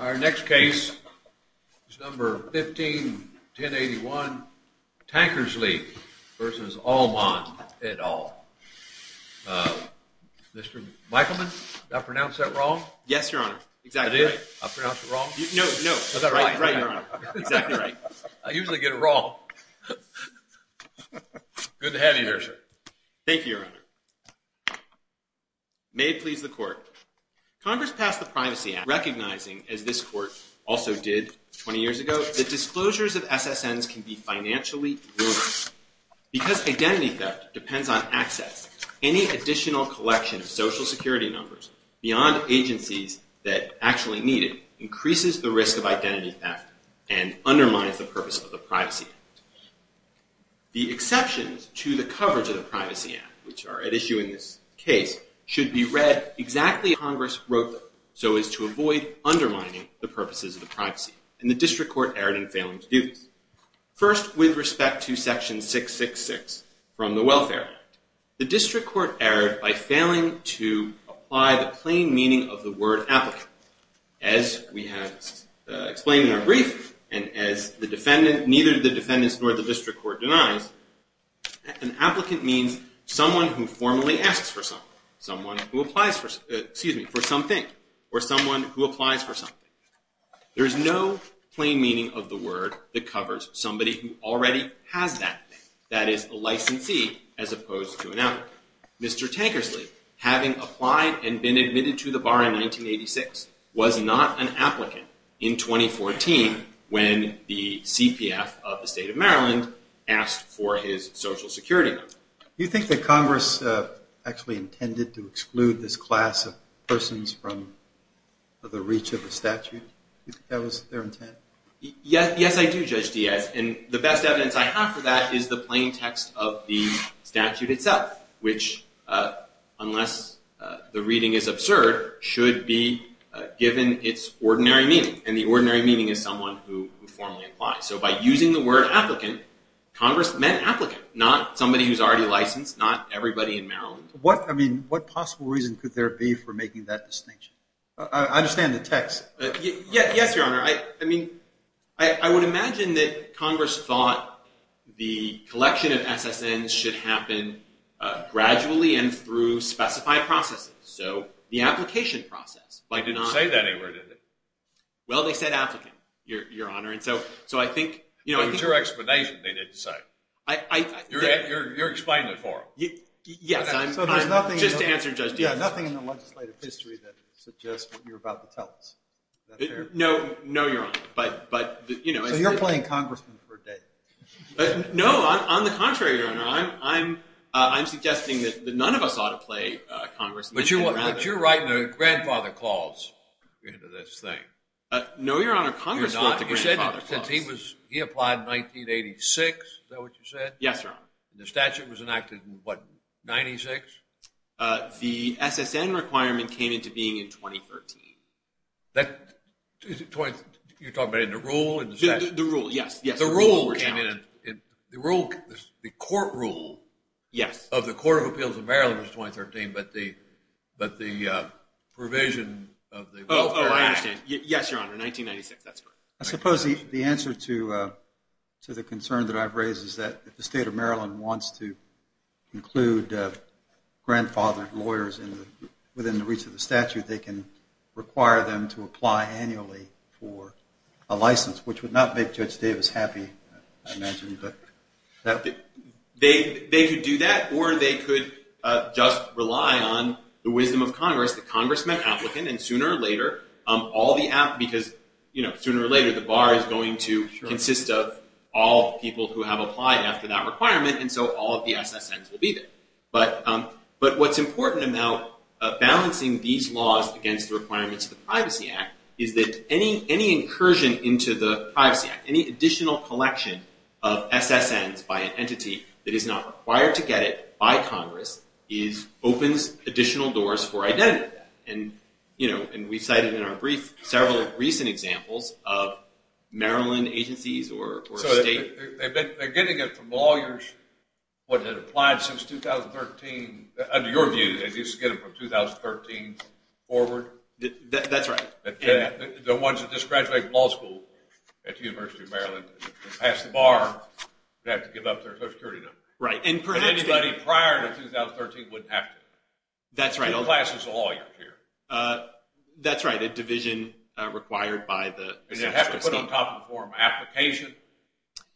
Our next case is number 151081 Tankersley v. Almand et al. Mr. Michaelman, did I pronounce that wrong? Yes, your honor. Exactly right. I did? I pronounced it wrong? No, no. Is that right? Right, your honor. Exactly right. I usually get it wrong. Good to have you here, sir. Thank you, your honor. May it please the court. Congress passed the Privacy Act recognizing, as this court also did 20 years ago, that disclosures of SSNs can be financially ruinous. Because identity theft depends on access, any additional collection of Social Security numbers beyond agencies that actually need it increases the risk of identity theft and undermines the purpose of the Privacy Act. The exceptions to the coverage of the Privacy Act, which are at issue in this case, should be read exactly as Congress wrote them, so as to avoid undermining the purposes of the Privacy Act. And the District Court erred in failing to do this. First, with respect to section 666 from the Welfare Act, the District Court erred by failing to apply the plain meaning of the word applicant. As we have explained in our brief, and as neither the defendants nor the District Court denies, an applicant means someone who formally asks for something, someone who applies for something, or someone who applies for something. There is no plain meaning of the word that covers somebody who already has that thing, that is a licensee as opposed to an applicant. Mr. Tankersley, having applied and been admitted to the bar in 1986, was not an applicant in 2014 when the CPF of the State of Maryland asked for his Social Security number. Do you think that Congress actually intended to exclude this class of persons from the reach of the statute? Do you think that was their intent? Yes, I do, Judge Diaz, and the best evidence I have for that is the plain text of the statute itself, which, unless the reading is absurd, should be given its ordinary meaning, and the ordinary meaning is someone who formally applies. So by using the word applicant, Congress meant applicant, not somebody who is already licensed, not everybody in Maryland. What possible reason could there be for making that distinction? I understand the text. Yes, Your Honor. I mean, I would imagine that Congress thought the collection of SSNs should happen gradually and through specified processes, so the application process. They didn't say that anywhere, did they? Well, they said applicant, Your Honor, and so I think... But it was your explanation they didn't say. You're explaining it for them. Yes, I'm just answering Judge Diaz. Nothing in the legislative history that suggests what you're about to tell us. No, Your Honor, but... So you're playing congressman for a day. No, on the contrary, Your Honor, I'm suggesting that none of us ought to play congressman. But you're writing a grandfather clause into this thing. No, Your Honor, Congress wrote the grandfather clause. You said he applied in 1986, is that what you said? Yes, Your Honor. The statute was enacted in, what, 96? The SSN requirement came into being in 2013. You're talking about the rule and the statute? The rule, yes. The rule came in, the court rule of the Court of Appeals of Maryland was 2013, but the provision of the Welfare Act... Oh, I understand. Yes, Your Honor, 1996, that's correct. I suppose the answer to the concern that I've raised is that if the state of Maryland wants to include grandfather lawyers within the reach of the statute, they can require them to apply annually for a license, which would not make Judge Davis happy, I imagine. They could do that, or they could just rely on the wisdom of Congress, the congressman applicant, and sooner or later, all the applicants, because sooner or later, the bar is going to consist of all people who have applied after that requirement, and so all of the SSNs will be there. But what's important about balancing these laws against the requirements of the Privacy Act is that any incursion into the Privacy Act, any additional collection of SSNs by an entity that is not required to get it by Congress opens additional doors for identity theft. And we've cited in our brief several recent examples of Maryland agencies or states... So they're getting it from lawyers that have applied since 2013, under your view, they're just getting it from 2013 forward? That's right. The ones that just graduated law school at the University of Maryland and passed the bar and had to give up their Social Security number. And anybody prior to 2013 wouldn't have to. That's right. Classes of lawyers here. That's right. A division required by the Social Security. Does it have to put on top of the form, application?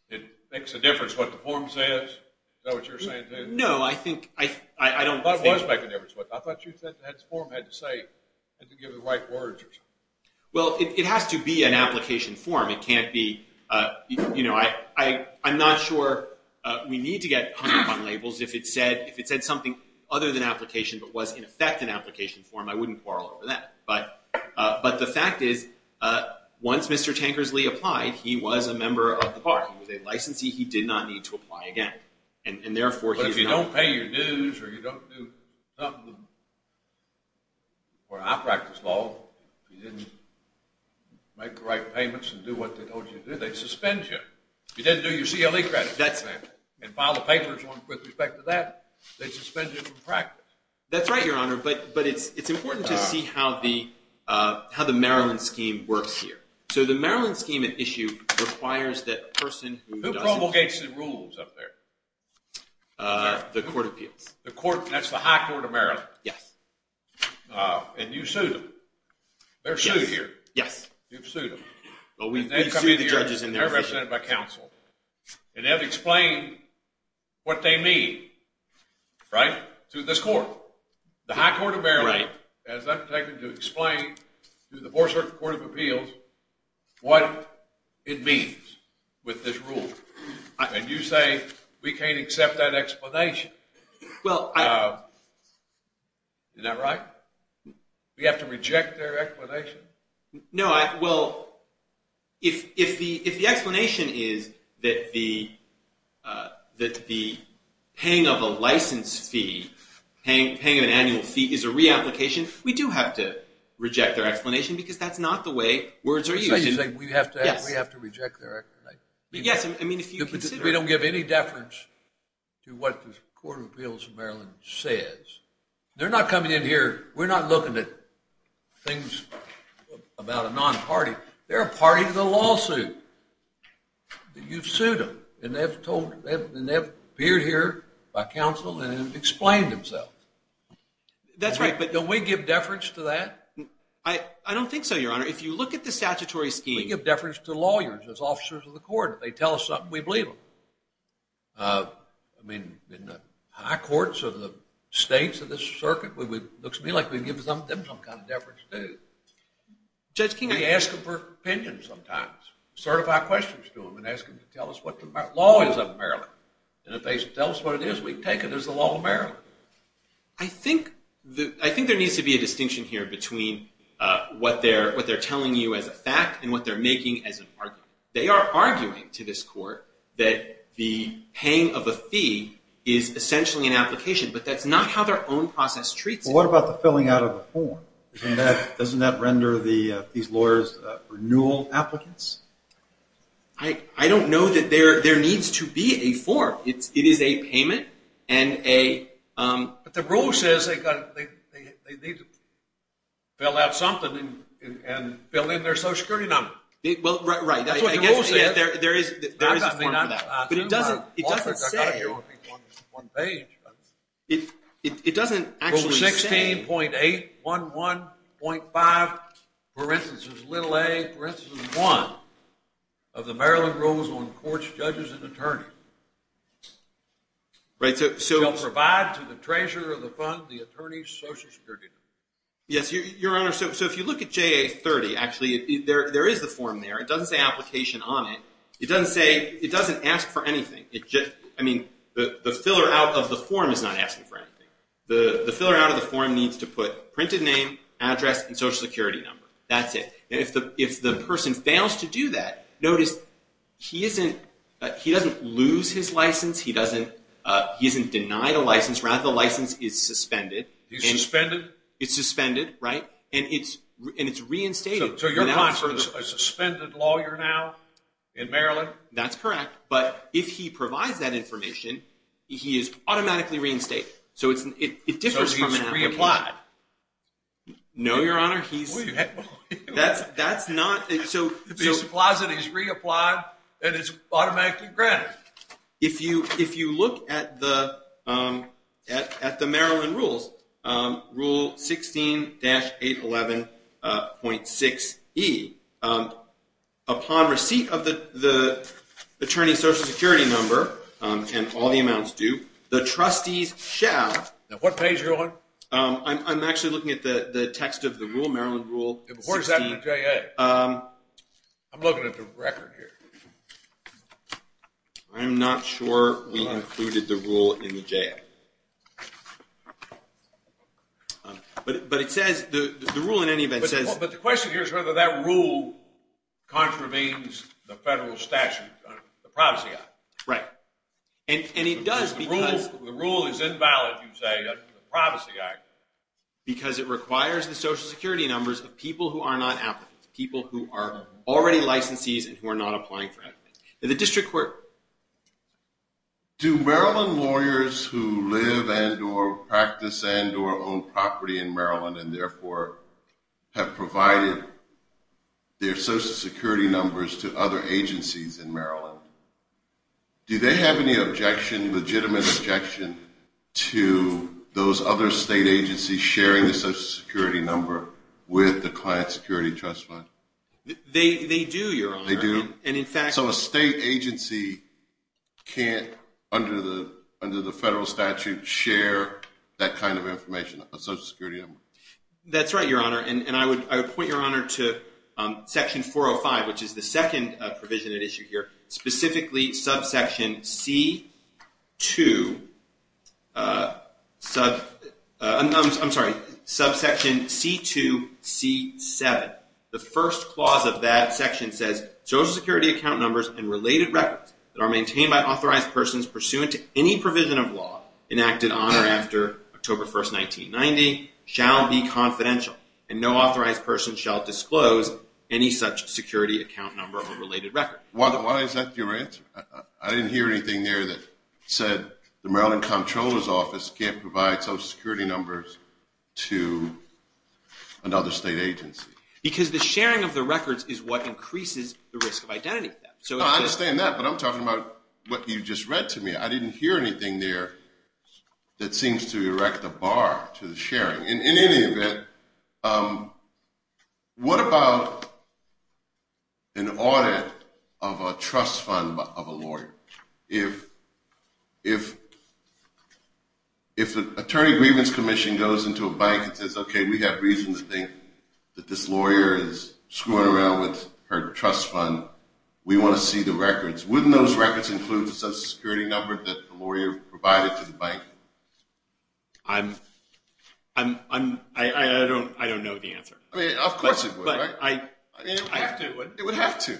It makes a difference what the form says? Is that what you're saying, Tim? No, I think I don't think... I thought it was making a difference. I thought you said the form had to say, had to give the right words or something. Well, it has to be an application form. It can't be, you know, I'm not sure we need to get 100-pound labels if it said something other than application but was, in effect, an application form. I wouldn't quarrel over that. But the fact is, once Mr. Tankersley applied, he was a member of the bar. He was a licensee. He did not need to apply again. But if you don't pay your dues or you don't do something where I practice law, you didn't make the right payments and do what they told you to do, they suspend you. You didn't do your CLE credit and file the papers with respect to that. They suspend you from practice. That's right, Your Honor. But it's important to see how the Maryland scheme works here. So the Maryland scheme at issue requires that a person who doesn't... Who promulgates the rules up there? The court appeals. That's the high court of Maryland. Yes. And you sued them. They're sued here. Yes. You've sued them. Well, we've sued the judges in their position. They're represented by counsel. And they've explained what they mean, right, to this court. The high court of Maryland has undertaken to explain to the Board of Circuit Court of Appeals what it means with this rule. And you say we can't accept that explanation. Well, I... Isn't that right? We have to reject their explanation? No. Well, if the explanation is that the paying of a license fee, paying of an annual fee is a reapplication, we do have to reject their explanation because that's not the way words are used. So you're saying we have to reject their explanation? Yes. I mean, if you consider... We don't give any deference to what the court of appeals of Maryland says. They're not coming in here. We're not looking at things about a non-party. They're a party to the lawsuit. You've sued them. And they've appeared here by counsel and explained themselves. That's right, but... Don't we give deference to that? I don't think so, Your Honor. If you look at the statutory scheme... We give deference to lawyers as officers of the court. If they tell us something, we believe them. I mean, in the high courts of the states of this circuit, it looks to me like we give them some kind of deference, too. Judge King... We ask them for opinions sometimes, certify questions to them, and ask them to tell us what the law is of Maryland. And if they tell us what it is, we take it as the law of Maryland. I think there needs to be a distinction here between what they're telling you as a fact and what they're making as an argument. They are arguing to this court that the paying of a fee is essentially an application, but that's not how their own process treats it. Well, what about the filling out of the form? Doesn't that render these lawyers renewal applicants? I don't know that there needs to be a form. It is a payment and a... But the rule says they need to fill out something and fill in their social security number. Well, right. I guess there is a form for that. But it doesn't say... It doesn't actually say... Rule 16.811.5, for instance, little a, for instance, one of the Maryland rules on courts, judges, and attorney. Right, so... Shall provide to the treasurer of the fund the attorney's social security number. Yes, Your Honor, so if you look at JA30, actually, there is the form there. It doesn't say application on it. It doesn't say... It doesn't ask for anything. I mean, the filler out of the form is not asking for anything. The filler out of the form needs to put printed name, address, and social security number. That's it. If the person fails to do that, notice he doesn't lose his license. He isn't denied a license. Rather, the license is suspended. It's suspended? It's suspended, right, and it's reinstated. So you're applying for a suspended lawyer now in Maryland? That's correct, but if he provides that information, he is automatically reinstated. So it differs from an application. So he's reapplied? No, Your Honor, he's... That's not... If he applies it, he's reapplied, and it's automatically granted. If you look at the Maryland rules, Rule 16-811.6e, upon receipt of the attorney's social security number and all the amounts due, the trustees shall... Now, what page are you on? I'm actually looking at the text of the rule, Maryland Rule 16... Where's that in the JA? I'm looking at the record here. I'm not sure we included the rule in the JA, but it says... The rule, in any event, says... But the question here is whether that rule contravenes the federal statute, the Privacy Act. Right, and it does because... The rule is invalid, you say, under the Privacy Act. Because it requires the social security numbers of people who are not applicants, people who are already licensees and who are not applying for applicants. The district court. Do Maryland lawyers who live and or practice and or own property in Maryland and therefore have provided their social security numbers to other agencies in Maryland, do they have any objection, legitimate objection, to those other state agencies sharing the social security number with the client security trust fund? They do, Your Honor. They do? So a state agency can't, under the federal statute, share that kind of information, a social security number? That's right, Your Honor, and I would point Your Honor to Section 405, which is the second provision at issue here, specifically subsection C2C7. The first clause of that section says, Social security account numbers and related records that are maintained by authorized persons pursuant to any provision of law enacted on or after October 1, 1990, shall be confidential, and no authorized person shall disclose any such security account number or related record. Why is that your answer? I didn't hear anything there that said the Maryland Comptroller's Office can't provide social security numbers to another state agency. Because the sharing of the records is what increases the risk of identity theft. I understand that, but I'm talking about what you just read to me. I didn't hear anything there that seems to erect a bar to the sharing. In any event, what about an audit of a trust fund of a lawyer? If the Attorney Grievance Commission goes into a bank and says, okay, we have reason to think that this lawyer is screwing around with her trust fund, we want to see the records. Wouldn't those records include the social security number that the lawyer provided to the bank? I don't know the answer. Of course it would, right? It would have to.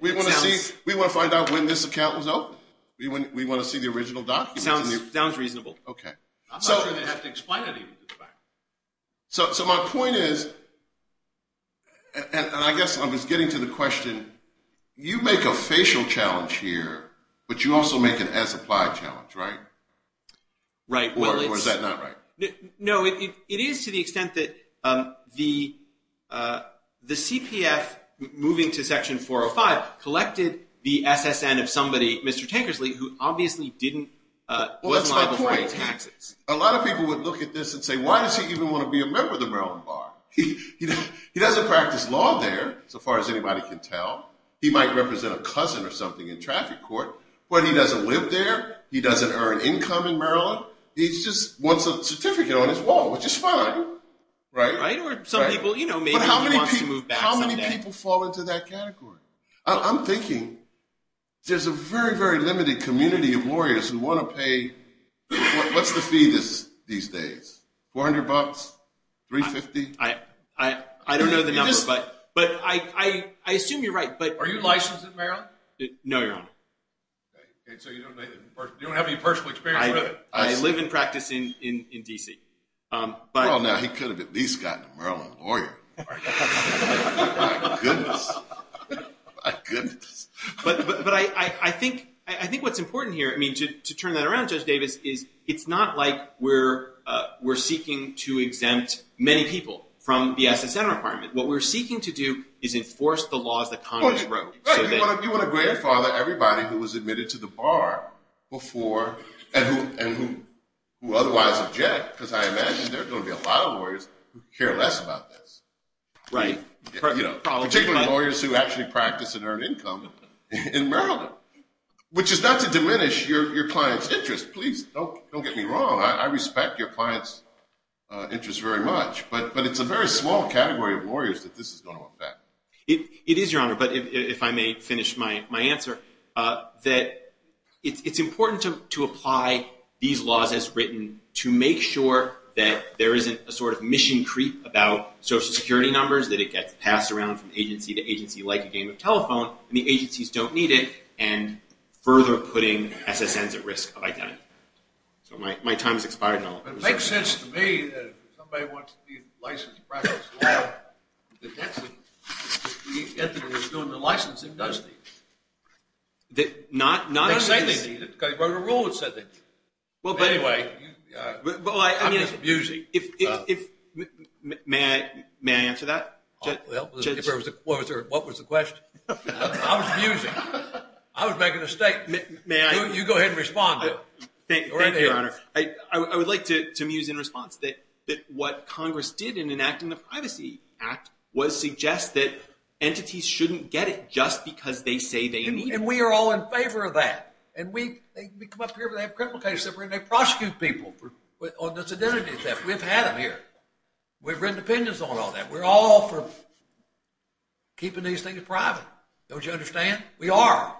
We want to find out when this account was opened. We want to see the original documents. Sounds reasonable. Okay. I'm not sure they have to explain anything to the bank. So my point is, and I guess I was getting to the question, you make a facial challenge here, but you also make an as-applied challenge, right? Right. Or is that not right? No, it is to the extent that the CPF moving to Section 405 collected the SSN of somebody, Mr. Tankersley, who obviously wasn't liable for any taxes. A lot of people would look at this and say, why does he even want to be a member of the Maryland Bar? He doesn't practice law there, so far as anybody can tell. He might represent a cousin or something in traffic court. But he doesn't live there. He doesn't earn income in Maryland. He just wants a certificate on his wall, which is fine, right? Right. Or some people, you know, maybe he wants to move back someday. But how many people fall into that category? I'm thinking there's a very, very limited community of lawyers who want to pay – what's the fee these days? $400? $350? I don't know the number, but I assume you're right. Are you licensed in Maryland? No, you're not. Okay. So you don't have any personal experience with it? I live and practice in D.C. Well, now, he could have at least gotten a Maryland lawyer. My goodness. My goodness. But I think what's important here, I mean, to turn that around, Judge Davis, is it's not like we're seeking to exempt many people from the SSM requirement. What we're seeking to do is enforce the laws that Congress wrote. Right. You want to grandfather everybody who was admitted to the bar before and who otherwise object, because I imagine there are going to be a lot of lawyers who care less about this. Right. Particularly lawyers who actually practice and earn income in Maryland, which is not to diminish your client's interest. Please, don't get me wrong. I respect your client's interest very much, but it's a very small category of lawyers that this is going to affect. It is, Your Honor. But if I may finish my answer, that it's important to apply these laws as written to make sure that there isn't a sort of mission creep about Social Security numbers, that it gets passed around from agency to agency like a game of telephone, and the agencies don't need it, and further putting SSNs at risk of identity. So my time has expired. It makes sense to me that if somebody wants to be licensed to practice the law, that the entity that's doing the license it does need it. It doesn't say they need it, because he wrote a rule that said they need it. Anyway, I'm just abusing. May I answer that? Well, what was the question? I was abusing. I was making a statement. You go ahead and respond to it. Thank you, Your Honor. I would like to amuse in response that what Congress did in enacting the Privacy Act was suggest that entities shouldn't get it just because they say they need it. And we are all in favor of that. And we come up here, we have criminal cases that we're going to prosecute people on this identity theft. We've had them here. We've written opinions on all that. We're all for keeping these things private. Don't you understand? We are.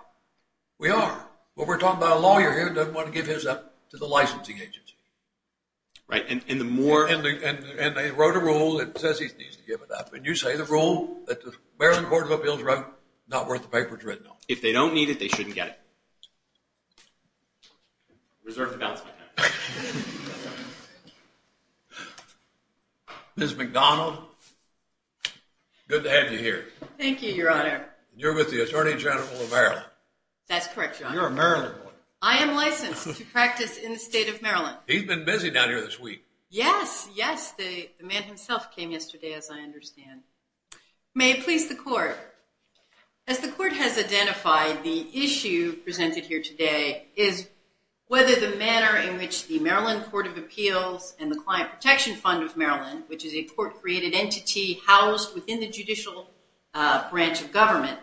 We are. Well, we're talking about a lawyer here who doesn't want to give his up to the licensing agency. Right. And the more... And they wrote a rule that says he needs to give it up. And you say the rule that the Maryland Court of Appeals wrote is not worth the papers written on. If they don't need it, they shouldn't get it. Reserve the balance of my time. Ms. McDonald, good to have you here. Thank you, Your Honor. You're with the Attorney General of Maryland. That's correct, Your Honor. You're a Maryland boy. I am licensed to practice in the state of Maryland. He's been busy down here this week. Yes. Yes. The man himself came yesterday, as I understand. May it please the Court. As the Court has identified, the issue presented here today is whether the manner in which the Maryland Court of Appeals and the Client Protection Fund of Maryland, which is a court-created entity housed within the judicial branch of government,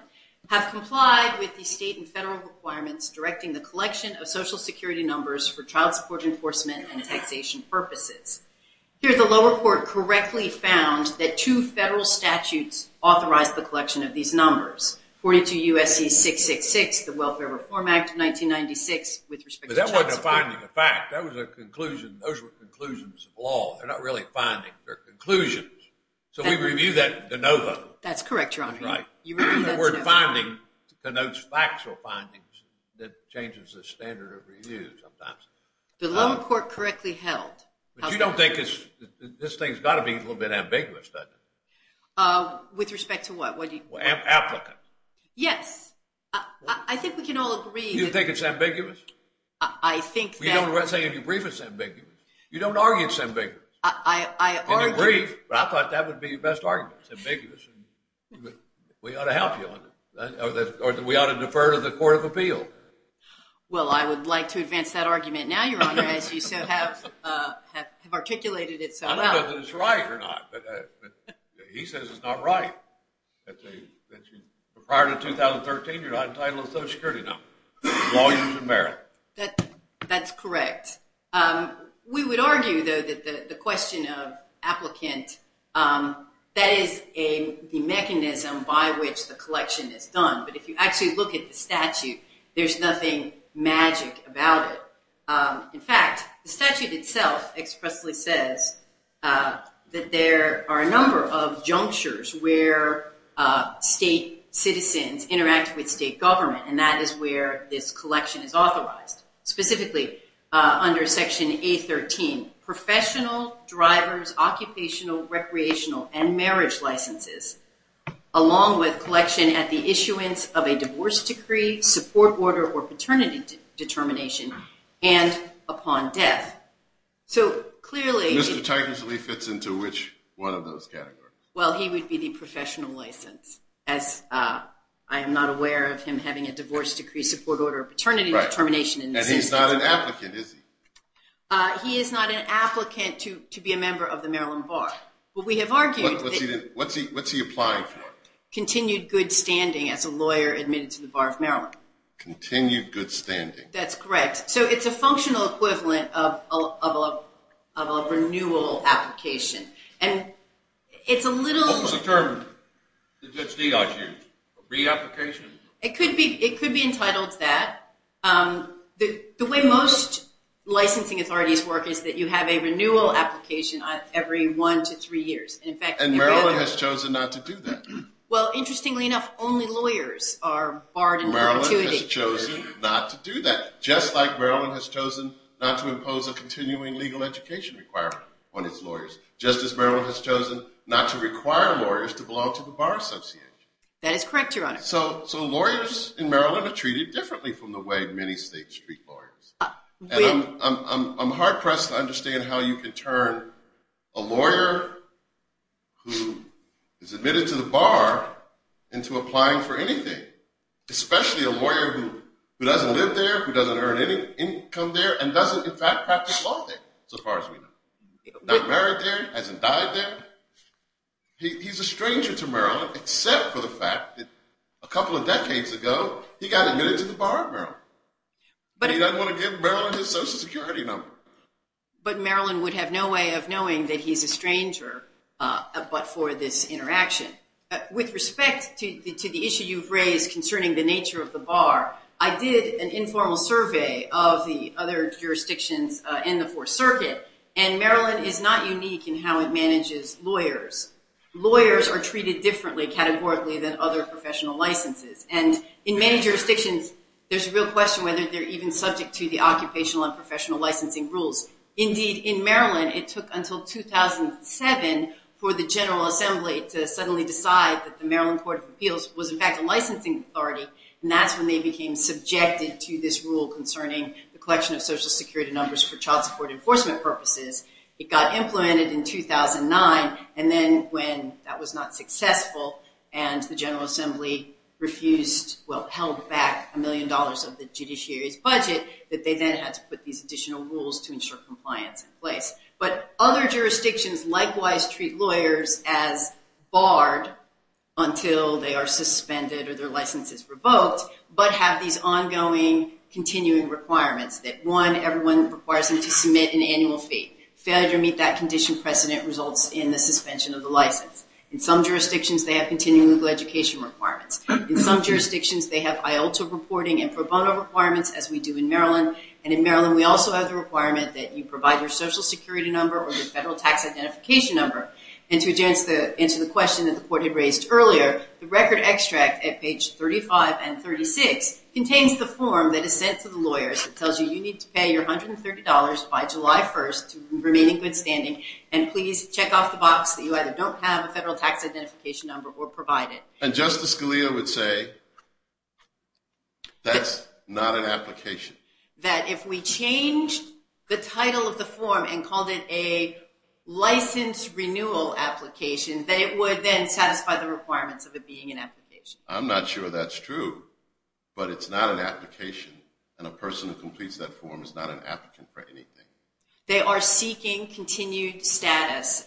have complied with the state and federal requirements directing the collection of Social Security numbers for child support enforcement and taxation purposes. Here, the lower court correctly found that two federal statutes authorized the collection of these numbers, 42 U.S.C. 666, the Welfare Reform Act of 1996 with respect to child support. But that wasn't a finding of fact. That was a conclusion. Those were conclusions of law. They're not really findings. So we review that de novo. That's correct, Your Honor. That's right. The word finding connotes factual findings that changes the standard of review sometimes. The lower court correctly held. But you don't think this thing's got to be a little bit ambiguous, doesn't it? With respect to what? Applicant. Yes. I think we can all agree. You think it's ambiguous? I think that. You don't say in your brief it's ambiguous. You don't argue it's ambiguous. I argue. In your brief. But I thought that would be your best argument. It's ambiguous. We ought to help you on that. Or we ought to defer to the Court of Appeal. Well, I would like to advance that argument now, Your Honor, as you so have articulated it so well. I don't know if it's right or not. But he says it's not right. Prior to 2013, you're not entitled to a Social Security number. As long as you're in Maryland. That's correct. We would argue, though, that the question of applicant, that is the mechanism by which the collection is done. But if you actually look at the statute, there's nothing magic about it. In fact, the statute itself expressly says that there are a number of junctures where state citizens interact with state government. And that is where this collection is authorized. Specifically, under Section A13, professional, driver's, occupational, recreational, and marriage licenses, along with collection at the issuance of a divorce decree, support order, or paternity determination, and upon death. So, clearly. Mr. Tigersley fits into which one of those categories? Well, he would be the professional license. I am not aware of him having a divorce decree, support order, or paternity determination. And he's not an applicant, is he? He is not an applicant to be a member of the Maryland Bar. But we have argued. What's he applying for? Continued good standing as a lawyer admitted to the Bar of Maryland. Continued good standing. That's correct. So, it's a functional equivalent of a renewal application. And it's a little. What was the term that Judge Dias used? Reapplication? It could be entitled to that. The way most licensing authorities work is that you have a renewal application every one to three years. And Maryland has chosen not to do that. Well, interestingly enough, only lawyers are barred in that activity. Maryland has chosen not to do that. Just like Maryland has chosen not to impose a continuing legal education requirement on its lawyers. Just as Maryland has chosen not to require lawyers to belong to the bar association. That is correct, Your Honor. So, lawyers in Maryland are treated differently from the way many states treat lawyers. And I'm hard-pressed to understand how you can turn a lawyer who is admitted to the bar into applying for anything. Especially a lawyer who doesn't live there, who doesn't earn any income there, and doesn't, in fact, practice law there, so far as we know. Not married there, hasn't died there. He's a stranger to Maryland, except for the fact that a couple of decades ago, he got admitted to the bar in Maryland. He doesn't want to give Maryland his Social Security number. But Maryland would have no way of knowing that he's a stranger but for this interaction. With respect to the issue you've raised concerning the nature of the bar, I did an informal survey of the other jurisdictions in the Fourth Circuit. And Maryland is not unique in how it manages lawyers. Lawyers are treated differently, categorically, than other professional licenses. And in many jurisdictions, there's a real question whether they're even subject to the occupational and professional licensing rules. Indeed, in Maryland, it took until 2007 for the General Assembly to suddenly decide that the Maryland Court of Appeals was, in fact, a licensing authority. And that's when they became subjected to this rule concerning the collection of Social Security numbers for child support enforcement purposes. It got implemented in 2009. And then when that was not successful and the General Assembly refused, well, held back a million dollars of the judiciary's budget, that they then had to put these additional rules to ensure compliance in place. But other jurisdictions likewise treat lawyers as barred until they are suspended or their license is revoked, but have these ongoing continuing requirements that, one, everyone requires them to submit an annual fee. Failure to meet that condition precedent results in the suspension of the license. In some jurisdictions, they have continuing legal education requirements. In some jurisdictions, they have IALTA reporting and pro bono requirements, as we do in Maryland. And in Maryland, we also have the requirement that you provide your Social Security number or your federal tax identification number. And to answer the question that the court had raised earlier, the record extract at page 35 and 36 contains the form that is sent to the lawyers that tells you you need to pay your $130 by July 1st to remain in good standing, and please check off the box that you either don't have a federal tax identification number or provide it. And Justice Scalia would say that's not an application. That if we changed the title of the form and called it a license renewal application, that it would then satisfy the requirements of it being an application. I'm not sure that's true, but it's not an application, and a person who completes that form is not an applicant for anything. They are seeking continued status,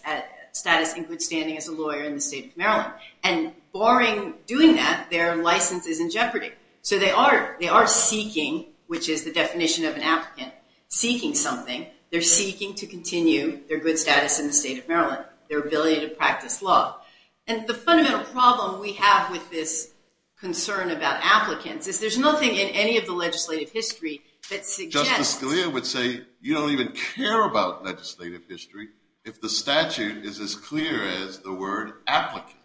status in good standing as a lawyer in the state of Maryland. And barring doing that, their license is in jeopardy. So they are seeking, which is the definition of an applicant, seeking something. They're seeking to continue their good status in the state of Maryland, their ability to practice law. And the fundamental problem we have with this concern about applicants is there's nothing in any of the legislative history that suggests… Who would care about legislative history if the statute is as clear as the word applicant?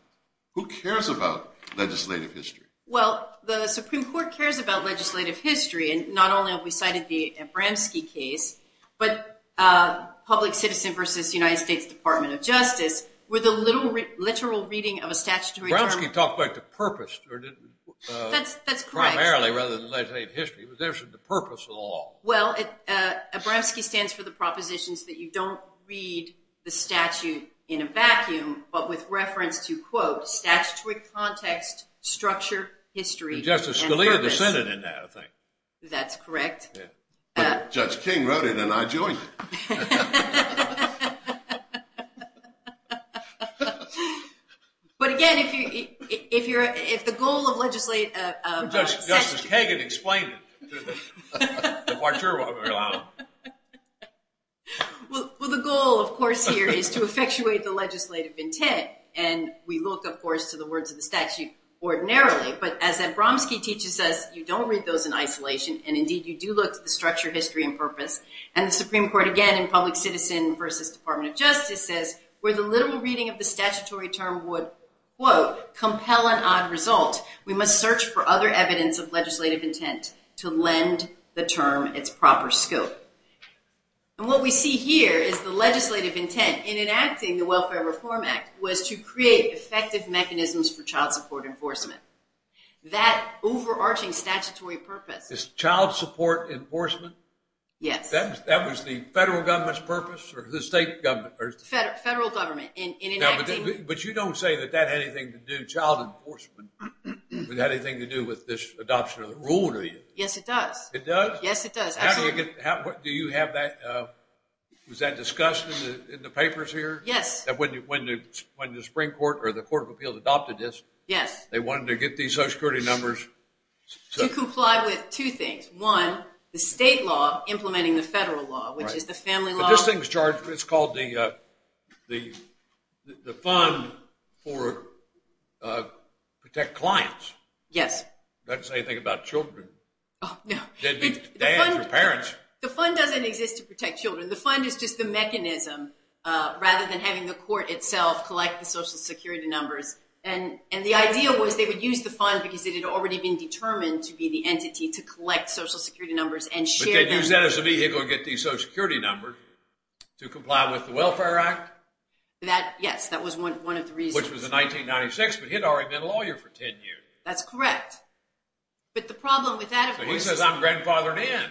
Who cares about legislative history? Well, the Supreme Court cares about legislative history, and not only have we cited the Abramski case, but Public Citizen v. United States Department of Justice, where the literal reading of a statutory term… Abramski talked about the purpose primarily rather than legislative history. Well, Abramski stands for the propositions that you don't read the statute in a vacuum, but with reference to, quote, statutory context, structure, history, and purpose. Justice Scalia dissented in that, I think. That's correct. Judge King wrote it, and I joined him. But again, if the goal of legislative… Justice Kagan explained it. Well, the goal, of course, here is to effectuate the legislative intent, and we look, of course, to the words of the statute ordinarily. But as Abramski teaches us, you don't read those in isolation, and indeed you do look to the structure, history, and purpose. And the Supreme Court, again, in Public Citizen v. Department of Justice says, where the literal reading of the statutory term would, quote, compel an odd result, we must search for other evidence of legislative intent to lend the term its proper scope. And what we see here is the legislative intent in enacting the Welfare Reform Act was to create effective mechanisms for child support enforcement. That overarching statutory purpose… Is child support enforcement? Yes. That was the federal government's purpose or the state government? Federal government in enacting… But you don't say that that had anything to do, child enforcement, had anything to do with this adoption of the rule, do you? Yes, it does. It does? Yes, it does. How do you get… Do you have that… Was that discussed in the papers here? Yes. When the Supreme Court or the Court of Appeals adopted this? Yes. They wanted to get these social security numbers… To comply with two things. One, the state law implementing the federal law, which is the family law… This thing is called the Fund for Protect Clients. Yes. That doesn't say anything about children. Oh, no. Dads or parents. The fund doesn't exist to protect children. The fund is just the mechanism rather than having the court itself collect the social security numbers. And the idea was they would use the fund because it had already been determined to be the entity to collect social security numbers and share them. They used that as a vehicle to get these social security numbers to comply with the Welfare Act? Yes, that was one of the reasons. Which was in 1996, but he had already been a lawyer for 10 years. That's correct. But the problem with that, of course… He says, I'm grandfathered in.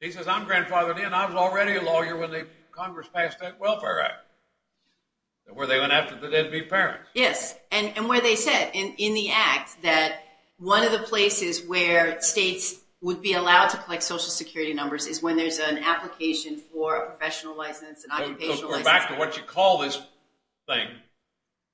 He says, I'm grandfathered in. I was already a lawyer when Congress passed the Welfare Act, where they went after the deadbeat parents. Yes. And where they said in the act that one of the places where states would be allowed to collect social security numbers is when there's an application for a professional license, an occupational license. Go back to what you call this thing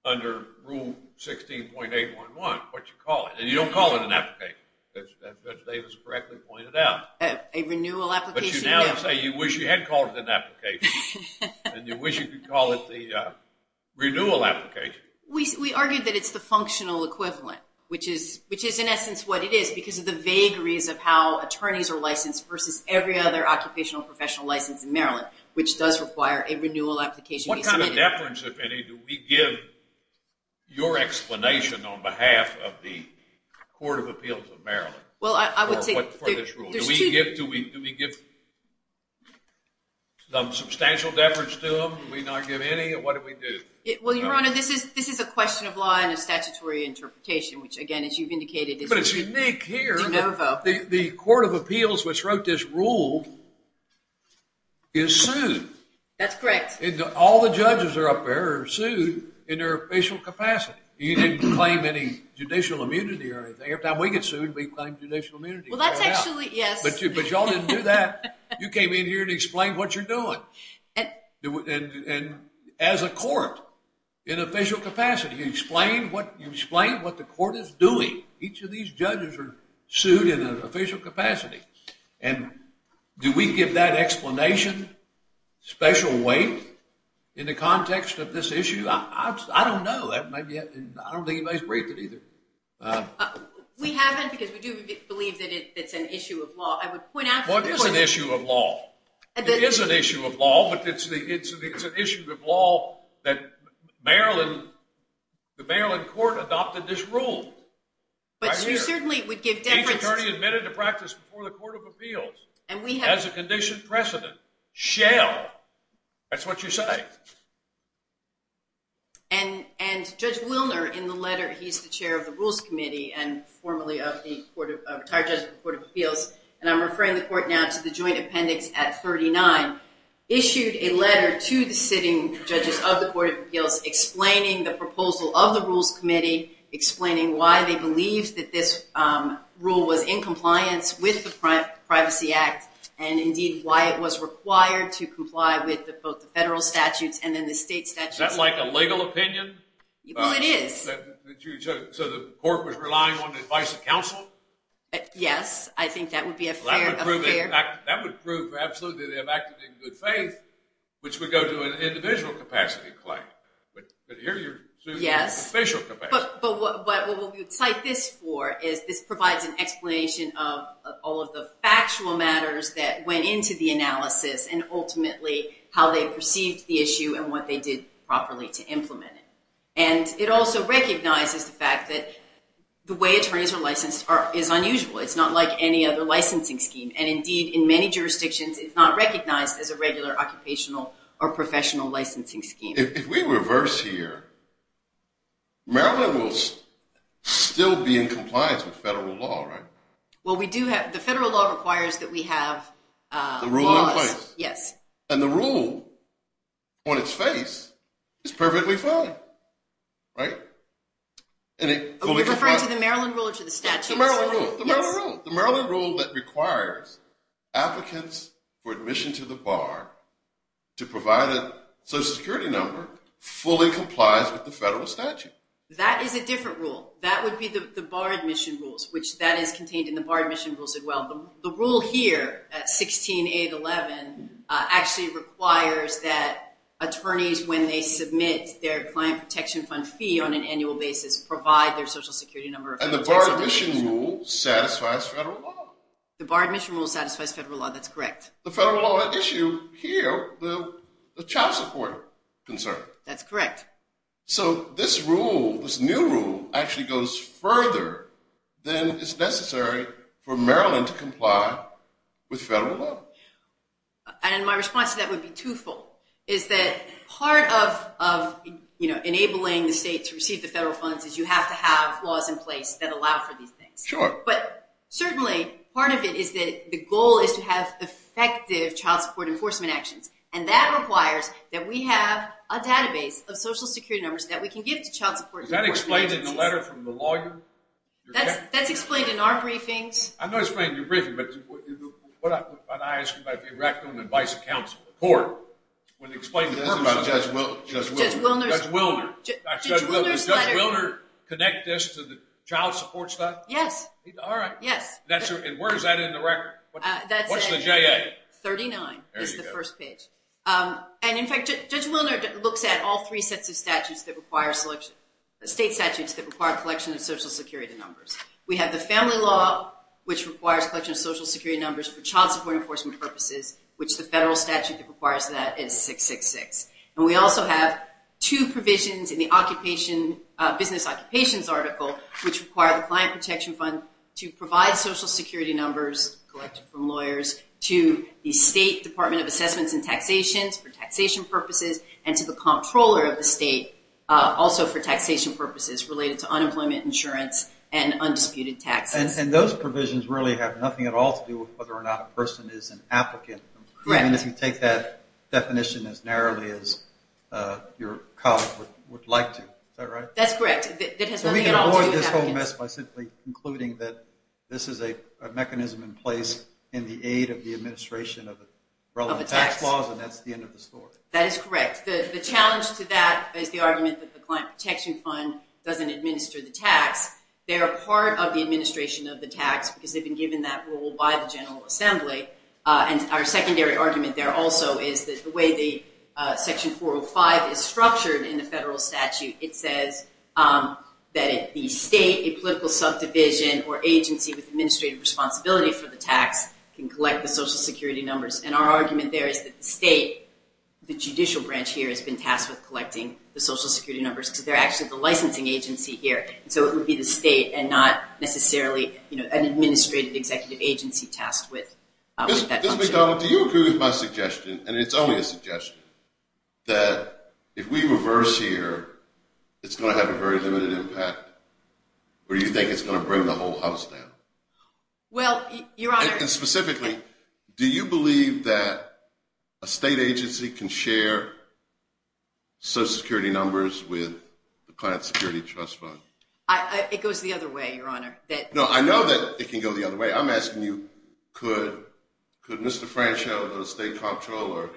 under Rule 16.811, what you call it. And you don't call it an application, as Judge Davis correctly pointed out. A renewal application. But you now say you wish you had called it an application, and you wish you could call it the renewal application. We argued that it's the functional equivalent, which is in essence what it is because of the vagaries of how attorneys are licensed versus every other occupational professional license in Maryland, which does require a renewal application to be submitted. What kind of deference, if any, do we give your explanation on behalf of the Court of Appeals of Maryland for this rule? Do we give substantial deference to them? Do we not give any? What do we do? Well, Your Honor, this is a question of law and a statutory interpretation, which, again, as you've indicated… But it's unique here. The Court of Appeals, which wrote this rule, is sued. That's correct. All the judges are up there are sued in their official capacity. You didn't claim any judicial immunity or anything. Every time we get sued, we claim judicial immunity. Well, that's actually, yes. But you all didn't do that. You came in here and explained what you're doing. And as a court, in official capacity, you explain what the court is doing. Each of these judges are sued in an official capacity. And do we give that explanation special weight in the context of this issue? I don't know. I don't think anybody's briefed it either. We haven't because we do believe that it's an issue of law. I would point out to the court… Well, it is an issue of law. It is an issue of law, but it's an issue of law that Maryland… But you certainly would give… Each attorney admitted to practice before the Court of Appeals, as a conditioned precedent, shall. That's what you say. And Judge Wilner, in the letter, he's the chair of the Rules Committee and formerly of the retired judge of the Court of Appeals, and I'm referring the court now to the joint appendix at 39, issued a letter to the sitting judges of the Court of Appeals explaining the proposal of the Rules Committee, explaining why they believe that this rule was in compliance with the Privacy Act and, indeed, why it was required to comply with both the federal statutes and then the state statutes. Is that like a legal opinion? Well, it is. So the court was relying on the advice of counsel? Yes. I think that would be a fair… That would prove absolutely they have acted in good faith, which would go to an individual capacity claim. But here you're sued in an official capacity. But what we would cite this for is this provides an explanation of all of the factual matters that went into the analysis and, ultimately, how they perceived the issue and what they did properly to implement it. And it also recognizes the fact that the way attorneys are licensed is unusual. It's not like any other licensing scheme, and, indeed, in many jurisdictions it's not recognized as a regular occupational or professional licensing scheme. If we reverse here, Maryland will still be in compliance with federal law, right? Well, we do have… The federal law requires that we have laws. The rule in place. Yes. And the rule on its face is perfectly fine, right? Are you referring to the Maryland rule or to the statute? The Maryland rule. The Maryland rule. The Maryland rule that requires applicants for admission to the bar to provide a social security number fully complies with the federal statute. That is a different rule. That would be the bar admission rules, which that is contained in the bar admission rules as well. The rule here at 16.811 actually requires that attorneys, when they submit their client protection fund fee on an annual basis, provide their social security number. And the bar admission rule satisfies federal law. The bar admission rule satisfies federal law. That's correct. The federal law issue here, the child support concern. That's correct. So this rule, this new rule, actually goes further than is necessary for Maryland to comply with federal law. And my response to that would be twofold, is that part of enabling the state to receive the federal funds is you have to have laws in place that allow for these things. Sure. But certainly part of it is that the goal is to have effective child support enforcement actions. And that requires that we have a database of social security numbers that we can give to child support. Is that explained in the letter from the lawyer? That's explained in our briefings. I know it's explained in your briefings, but what I'm asking about the rectum and vice counsel, the court, when they explain the purpose of it. Judge Wilner. Judge Wilner. Judge Wilner's letter. Does Judge Wilner connect this to the child support stuff? Yes. All right. Yes. And where is that in the record? What's the JA? 39 is the first page. And, in fact, Judge Wilner looks at all three sets of statutes that require selection, state statutes that require collection of social security numbers. We have the family law, which requires collection of social security numbers for child support enforcement purposes, which the federal statute that requires that is 666. And we also have two provisions in the business occupations article, which require the client protection fund to provide social security numbers collected from lawyers to the State Department of Assessments and Taxations for taxation purposes and to the comptroller of the state also for taxation purposes related to unemployment insurance and undisputed taxes. And those provisions really have nothing at all to do with whether or not a person is an applicant. Correct. I mean, if you take that definition as narrowly as your colleague would like to. Is that right? That's correct. That has nothing at all to do with applicants. So we can avoid this whole mess by simply concluding that this is a mechanism in place in the aid of the administration of the relevant tax laws, and that's the end of the story. That is correct. The challenge to that is the argument that the client protection fund doesn't administer the tax. They are part of the administration of the tax because they've been given that role by the General Assembly. And our secondary argument there also is that the way the Section 405 is that the state, a political subdivision, or agency with administrative responsibility for the tax can collect the Social Security numbers. And our argument there is that the state, the judicial branch here has been tasked with collecting the Social Security numbers because they're actually the licensing agency here. So it would be the state and not necessarily an administrative executive agency tasked with that function. Ms. McDonald, do you agree with my suggestion, and it's only a suggestion, that if we reverse here, it's going to have a very limited impact? Or do you think it's going to bring the whole house down? Well, Your Honor. And specifically, do you believe that a state agency can share Social Security numbers with the Client Security Trust Fund? It goes the other way, Your Honor. No, I know that it can go the other way. I'm asking you, could Mr. Franchot, the state comptroller,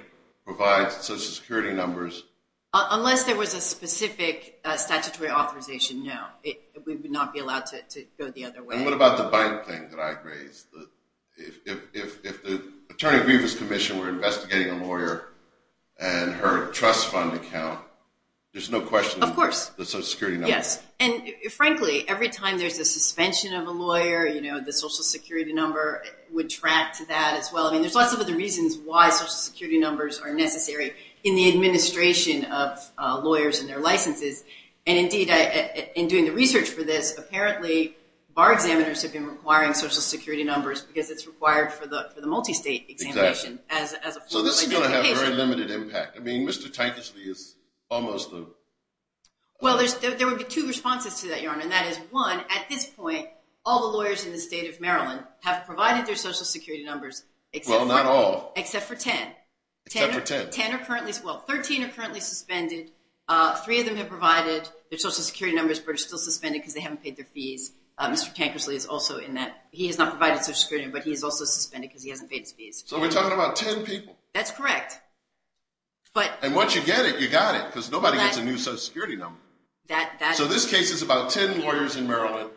provide Social Security numbers? Unless there was a specific statutory authorization, no. We would not be allowed to go the other way. And what about the bank thing that I raised? If the Attorney Grievous Commission were investigating a lawyer and her trust fund account, there's no question. Of course. The Social Security numbers. Yes. And frankly, every time there's a suspension of a lawyer, you know, the Social Security number would track to that as well. I mean, there's lots of other reasons why Social Security numbers are necessary. In the administration of lawyers and their licenses, and indeed in doing the research for this, apparently bar examiners have been requiring Social Security numbers because it's required for the multi-state examination. Exactly. So this is going to have a very limited impact. I mean, Mr. Tankishlea is almost the. Well, there would be two responses to that, Your Honor, and that is, one, at this point, all the lawyers in the state of Maryland have provided their Social Security numbers except for ten. Except for ten. Ten are currently, well, 13 are currently suspended. Three of them have provided their Social Security numbers, but are still suspended because they haven't paid their fees. Mr. Tankishlea is also in that. He has not provided Social Security, but he is also suspended because he hasn't paid his fees. So we're talking about ten people. That's correct. And once you get it, you got it. Because nobody gets a new Social Security number. So this case is about ten lawyers in Maryland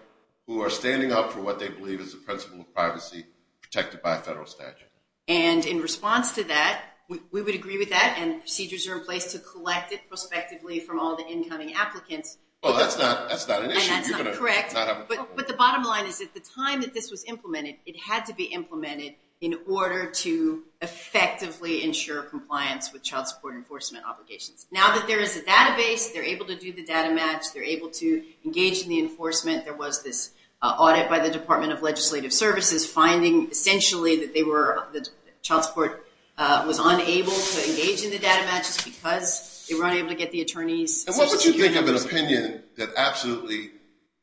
who are standing up for what they believe is the principle of privacy protected by a federal statute. And in response to that, we would agree with that and procedures are in place to collect it prospectively from all the incoming applicants. Well, that's not an issue. And that's not correct. But the bottom line is at the time that this was implemented, it had to be implemented in order to effectively ensure compliance with child support enforcement obligations. Now that there is a database, they're able to do the data match. They're able to engage in the enforcement. There was this audit by the Department of Legislative Services finding essentially that they were, the child support was unable to engage in the data matches because they were unable to get the attorney's Social Security numbers. And what would you think of an opinion that absolutely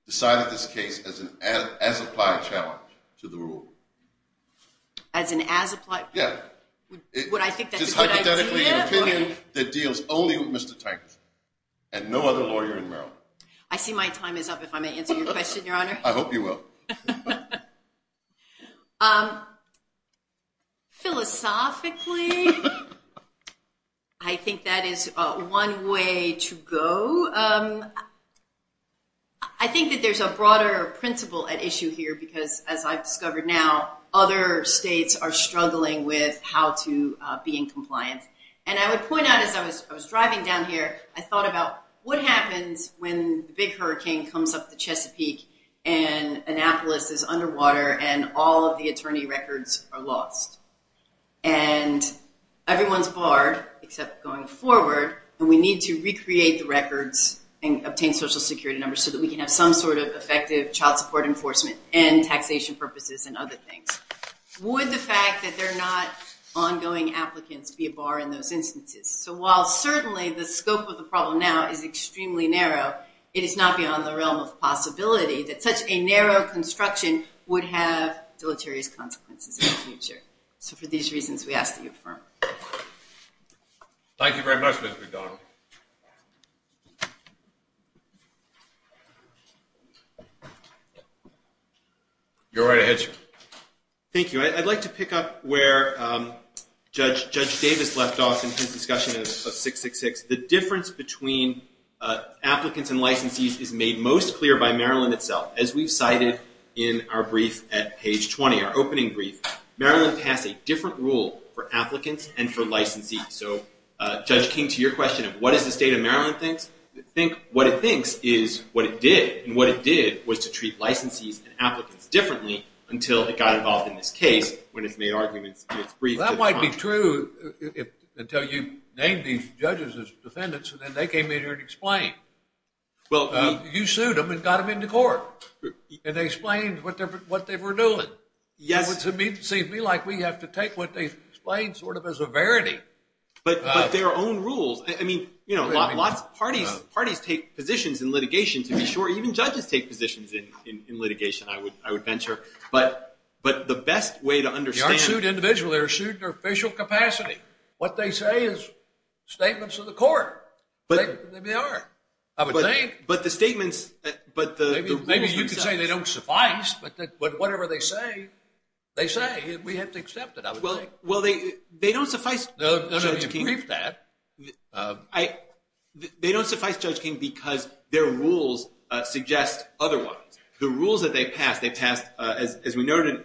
decided this case as an as-applied challenge to the rule? As an as-applied? Yeah. Would I think that's a good idea? Just hypothetically an opinion that deals only with Mr. Tykes and no other lawyer in Maryland. I see my time is up if I may answer your question, Your Honor. I hope you will. Philosophically, I think that is one way to go. I think that there's a broader principle at issue here because, as I've discovered now, other states are struggling with how to be in compliance. And I would point out as I was driving down here, I thought about what happens when the big hurricane comes up the Chesapeake and Annapolis is underwater and all of the attorney records are lost. And everyone's barred except going forward and we need to recreate the records and obtain Social Security numbers so that we can have some sort of effective child support enforcement and taxation purposes and other things. Would the fact that there are not ongoing applicants be a bar in those instances? So while certainly the scope of the problem now is extremely narrow, it is not beyond the realm of possibility that such a narrow construction would have deleterious consequences in the future. So for these reasons, we ask that you affirm. Thank you very much, Ms. McDonald. You're right ahead, sir. Thank you. I'd like to pick up where Judge Davis left off in his discussion of 666. The difference between applicants and licensees is made most clear by Maryland itself. As we've cited in our brief at page 20, our opening brief, Maryland passed a different rule for applicants and for licensees. So Judge King, to your question of what is the state of Maryland thinks, what it thinks is what it did. And what it did was to treat licensees and applicants differently until it got involved in this case when it's made arguments in its brief. Well, that might be true until you name these judges as defendants, and then they came in here and explained. You sued them and got them into court. And they explained what they were doing. It would seem to me like we have to take what they've explained sort of as a verity. But their own rules. I mean, you know, lots of parties take positions in litigation, to be sure. Even judges take positions in litigation, I would venture. But the best way to understand. They aren't sued individually. They're sued in their official capacity. What they say is statements of the court. Maybe they are. I would think. But the statements. Maybe you could say they don't suffice. But whatever they say, they say. We have to accept it, I would think. Well, they don't suffice, Judge King. No, no, you briefed that. They don't suffice, Judge King, because their rules suggest otherwise. The rules that they passed, they passed, as we noted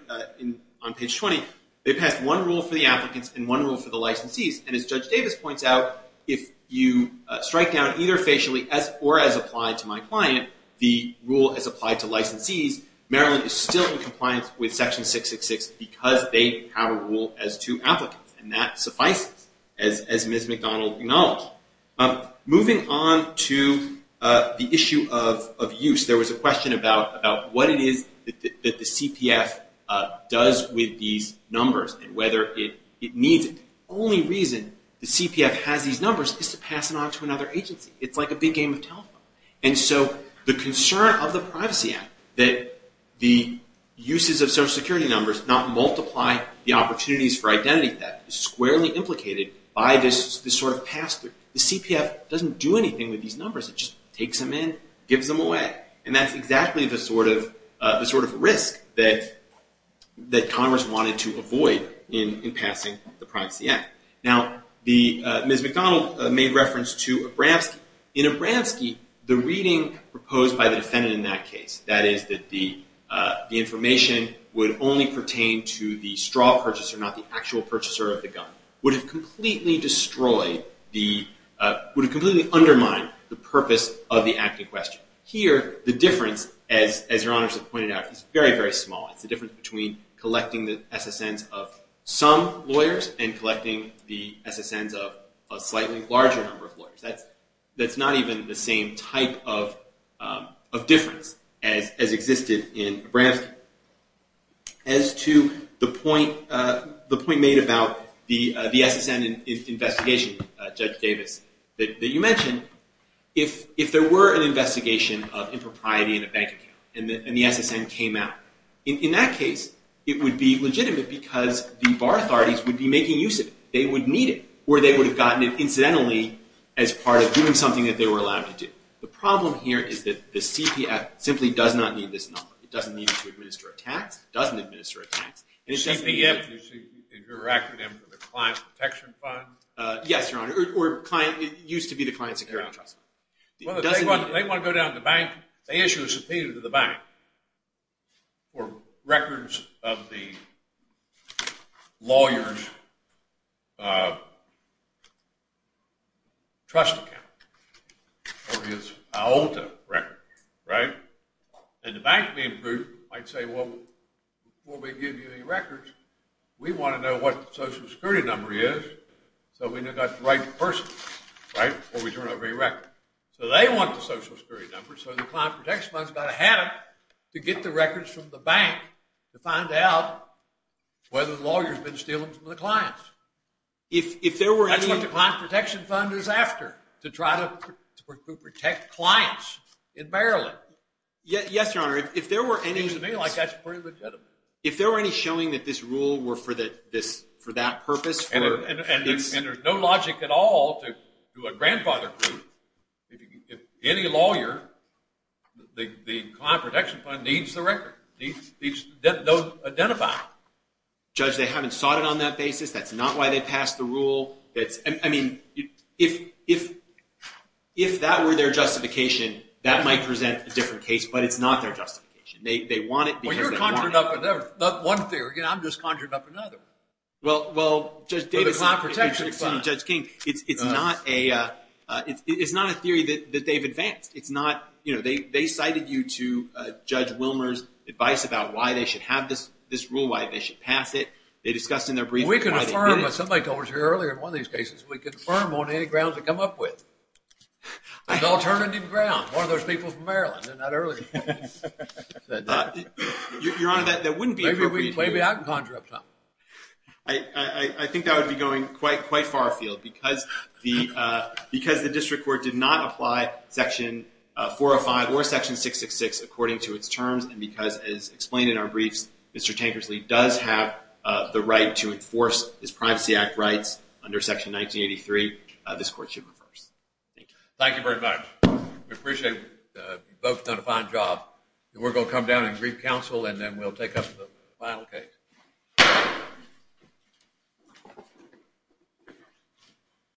on page 20, they passed one rule for the applicants and one rule for the licensees. And as Judge Davis points out, if you strike down either facially or as applied to my client, the rule as applied to licensees, Maryland is still in compliance with section 666 because they have a rule as to applicants. And that suffices, as Ms. McDonald acknowledged. Moving on to the issue of use. There was a question about what it is that the CPF does with these numbers and whether it needs it. The only reason the CPF has these numbers is to pass it on to another agency. It's like a big game of telephone. And so the concern of the Privacy Act that the uses of Social Security numbers not multiply the opportunities for identity theft is squarely The CPF doesn't do anything with these numbers. It just takes them in, gives them away. And that's exactly the sort of risk that Congress wanted to avoid in passing the Privacy Act. Now, Ms. McDonald made reference to Abramski. In Abramski, the reading proposed by the defendant in that case, that is that the information would only pertain to the straw purchaser, not the actual purchaser of the gun, would have completely destroyed the would have completely undermined the purpose of the act in question. Here, the difference, as Your Honors have pointed out, is very, very small. It's the difference between collecting the SSNs of some lawyers and collecting the SSNs of a slightly larger number of lawyers. That's not even the same type of difference as existed in Abramski. As to the point made about the SSN investigation, Judge Davis, that you mentioned, if there were an investigation of impropriety in a bank account and the SSN came out, in that case, it would be legitimate because the bar authorities would be making use of it. They would need it, or they would have gotten it incidentally as part of doing something that they were allowed to do. The problem here is that the CPF simply does not need this number. It doesn't need it to administer a tax. It doesn't administer a tax. CPF is your acronym for the Client Protection Fund? Yes, Your Honor, or it used to be the Client Security Trust Fund. They want to go down to the bank, they issue a subpoena to the bank for records of the lawyer's trust account, or his AOLTA records, right? And the bank being approved might say, well, before we give you any records, we want to know what the social security number is so we know we've got the right person, right, before we turn over any records. So they want the social security number, so the Client Protection Fund's got to have it to get the records from the bank to find out whether the lawyer's been stealing from the clients. That's what the Client Protection Fund is after, to try to protect clients in Maryland. But, yes, Your Honor, if there were any— Seems to me like that's pretty legitimate. If there were any showing that this rule were for that purpose— And there's no logic at all to a grandfather proof. If any lawyer, the Client Protection Fund needs the record. Needs those identified. Judge, they haven't sought it on that basis. That's not why they passed the rule. I mean, if that were their justification, that might present a different case, but it's not their justification. They want it because they want it. Well, you're conjuring up one theory, and I'm just conjuring up another. Well, Judge King, it's not a theory that they've advanced. They cited you to Judge Wilmer's advice about why they should have this rule, why they should pass it. We can affirm, but somebody told us earlier in one of these cases, we can affirm on any grounds they come up with. An alternative ground, one of those people from Maryland, and not earlier. Your Honor, that wouldn't be appropriate. Maybe I can conjure up something. I think that would be going quite far afield, because the district court did not apply Section 405 or Section 666 according to its terms, and because, as explained in our briefs, Mr. Tankersley does have the right to enforce his Privacy Act rights under Section 1983. This court should reverse. Thank you. Thank you very much. We appreciate you both have done a fine job. We're going to come down and brief counsel, and then we'll take up the final case.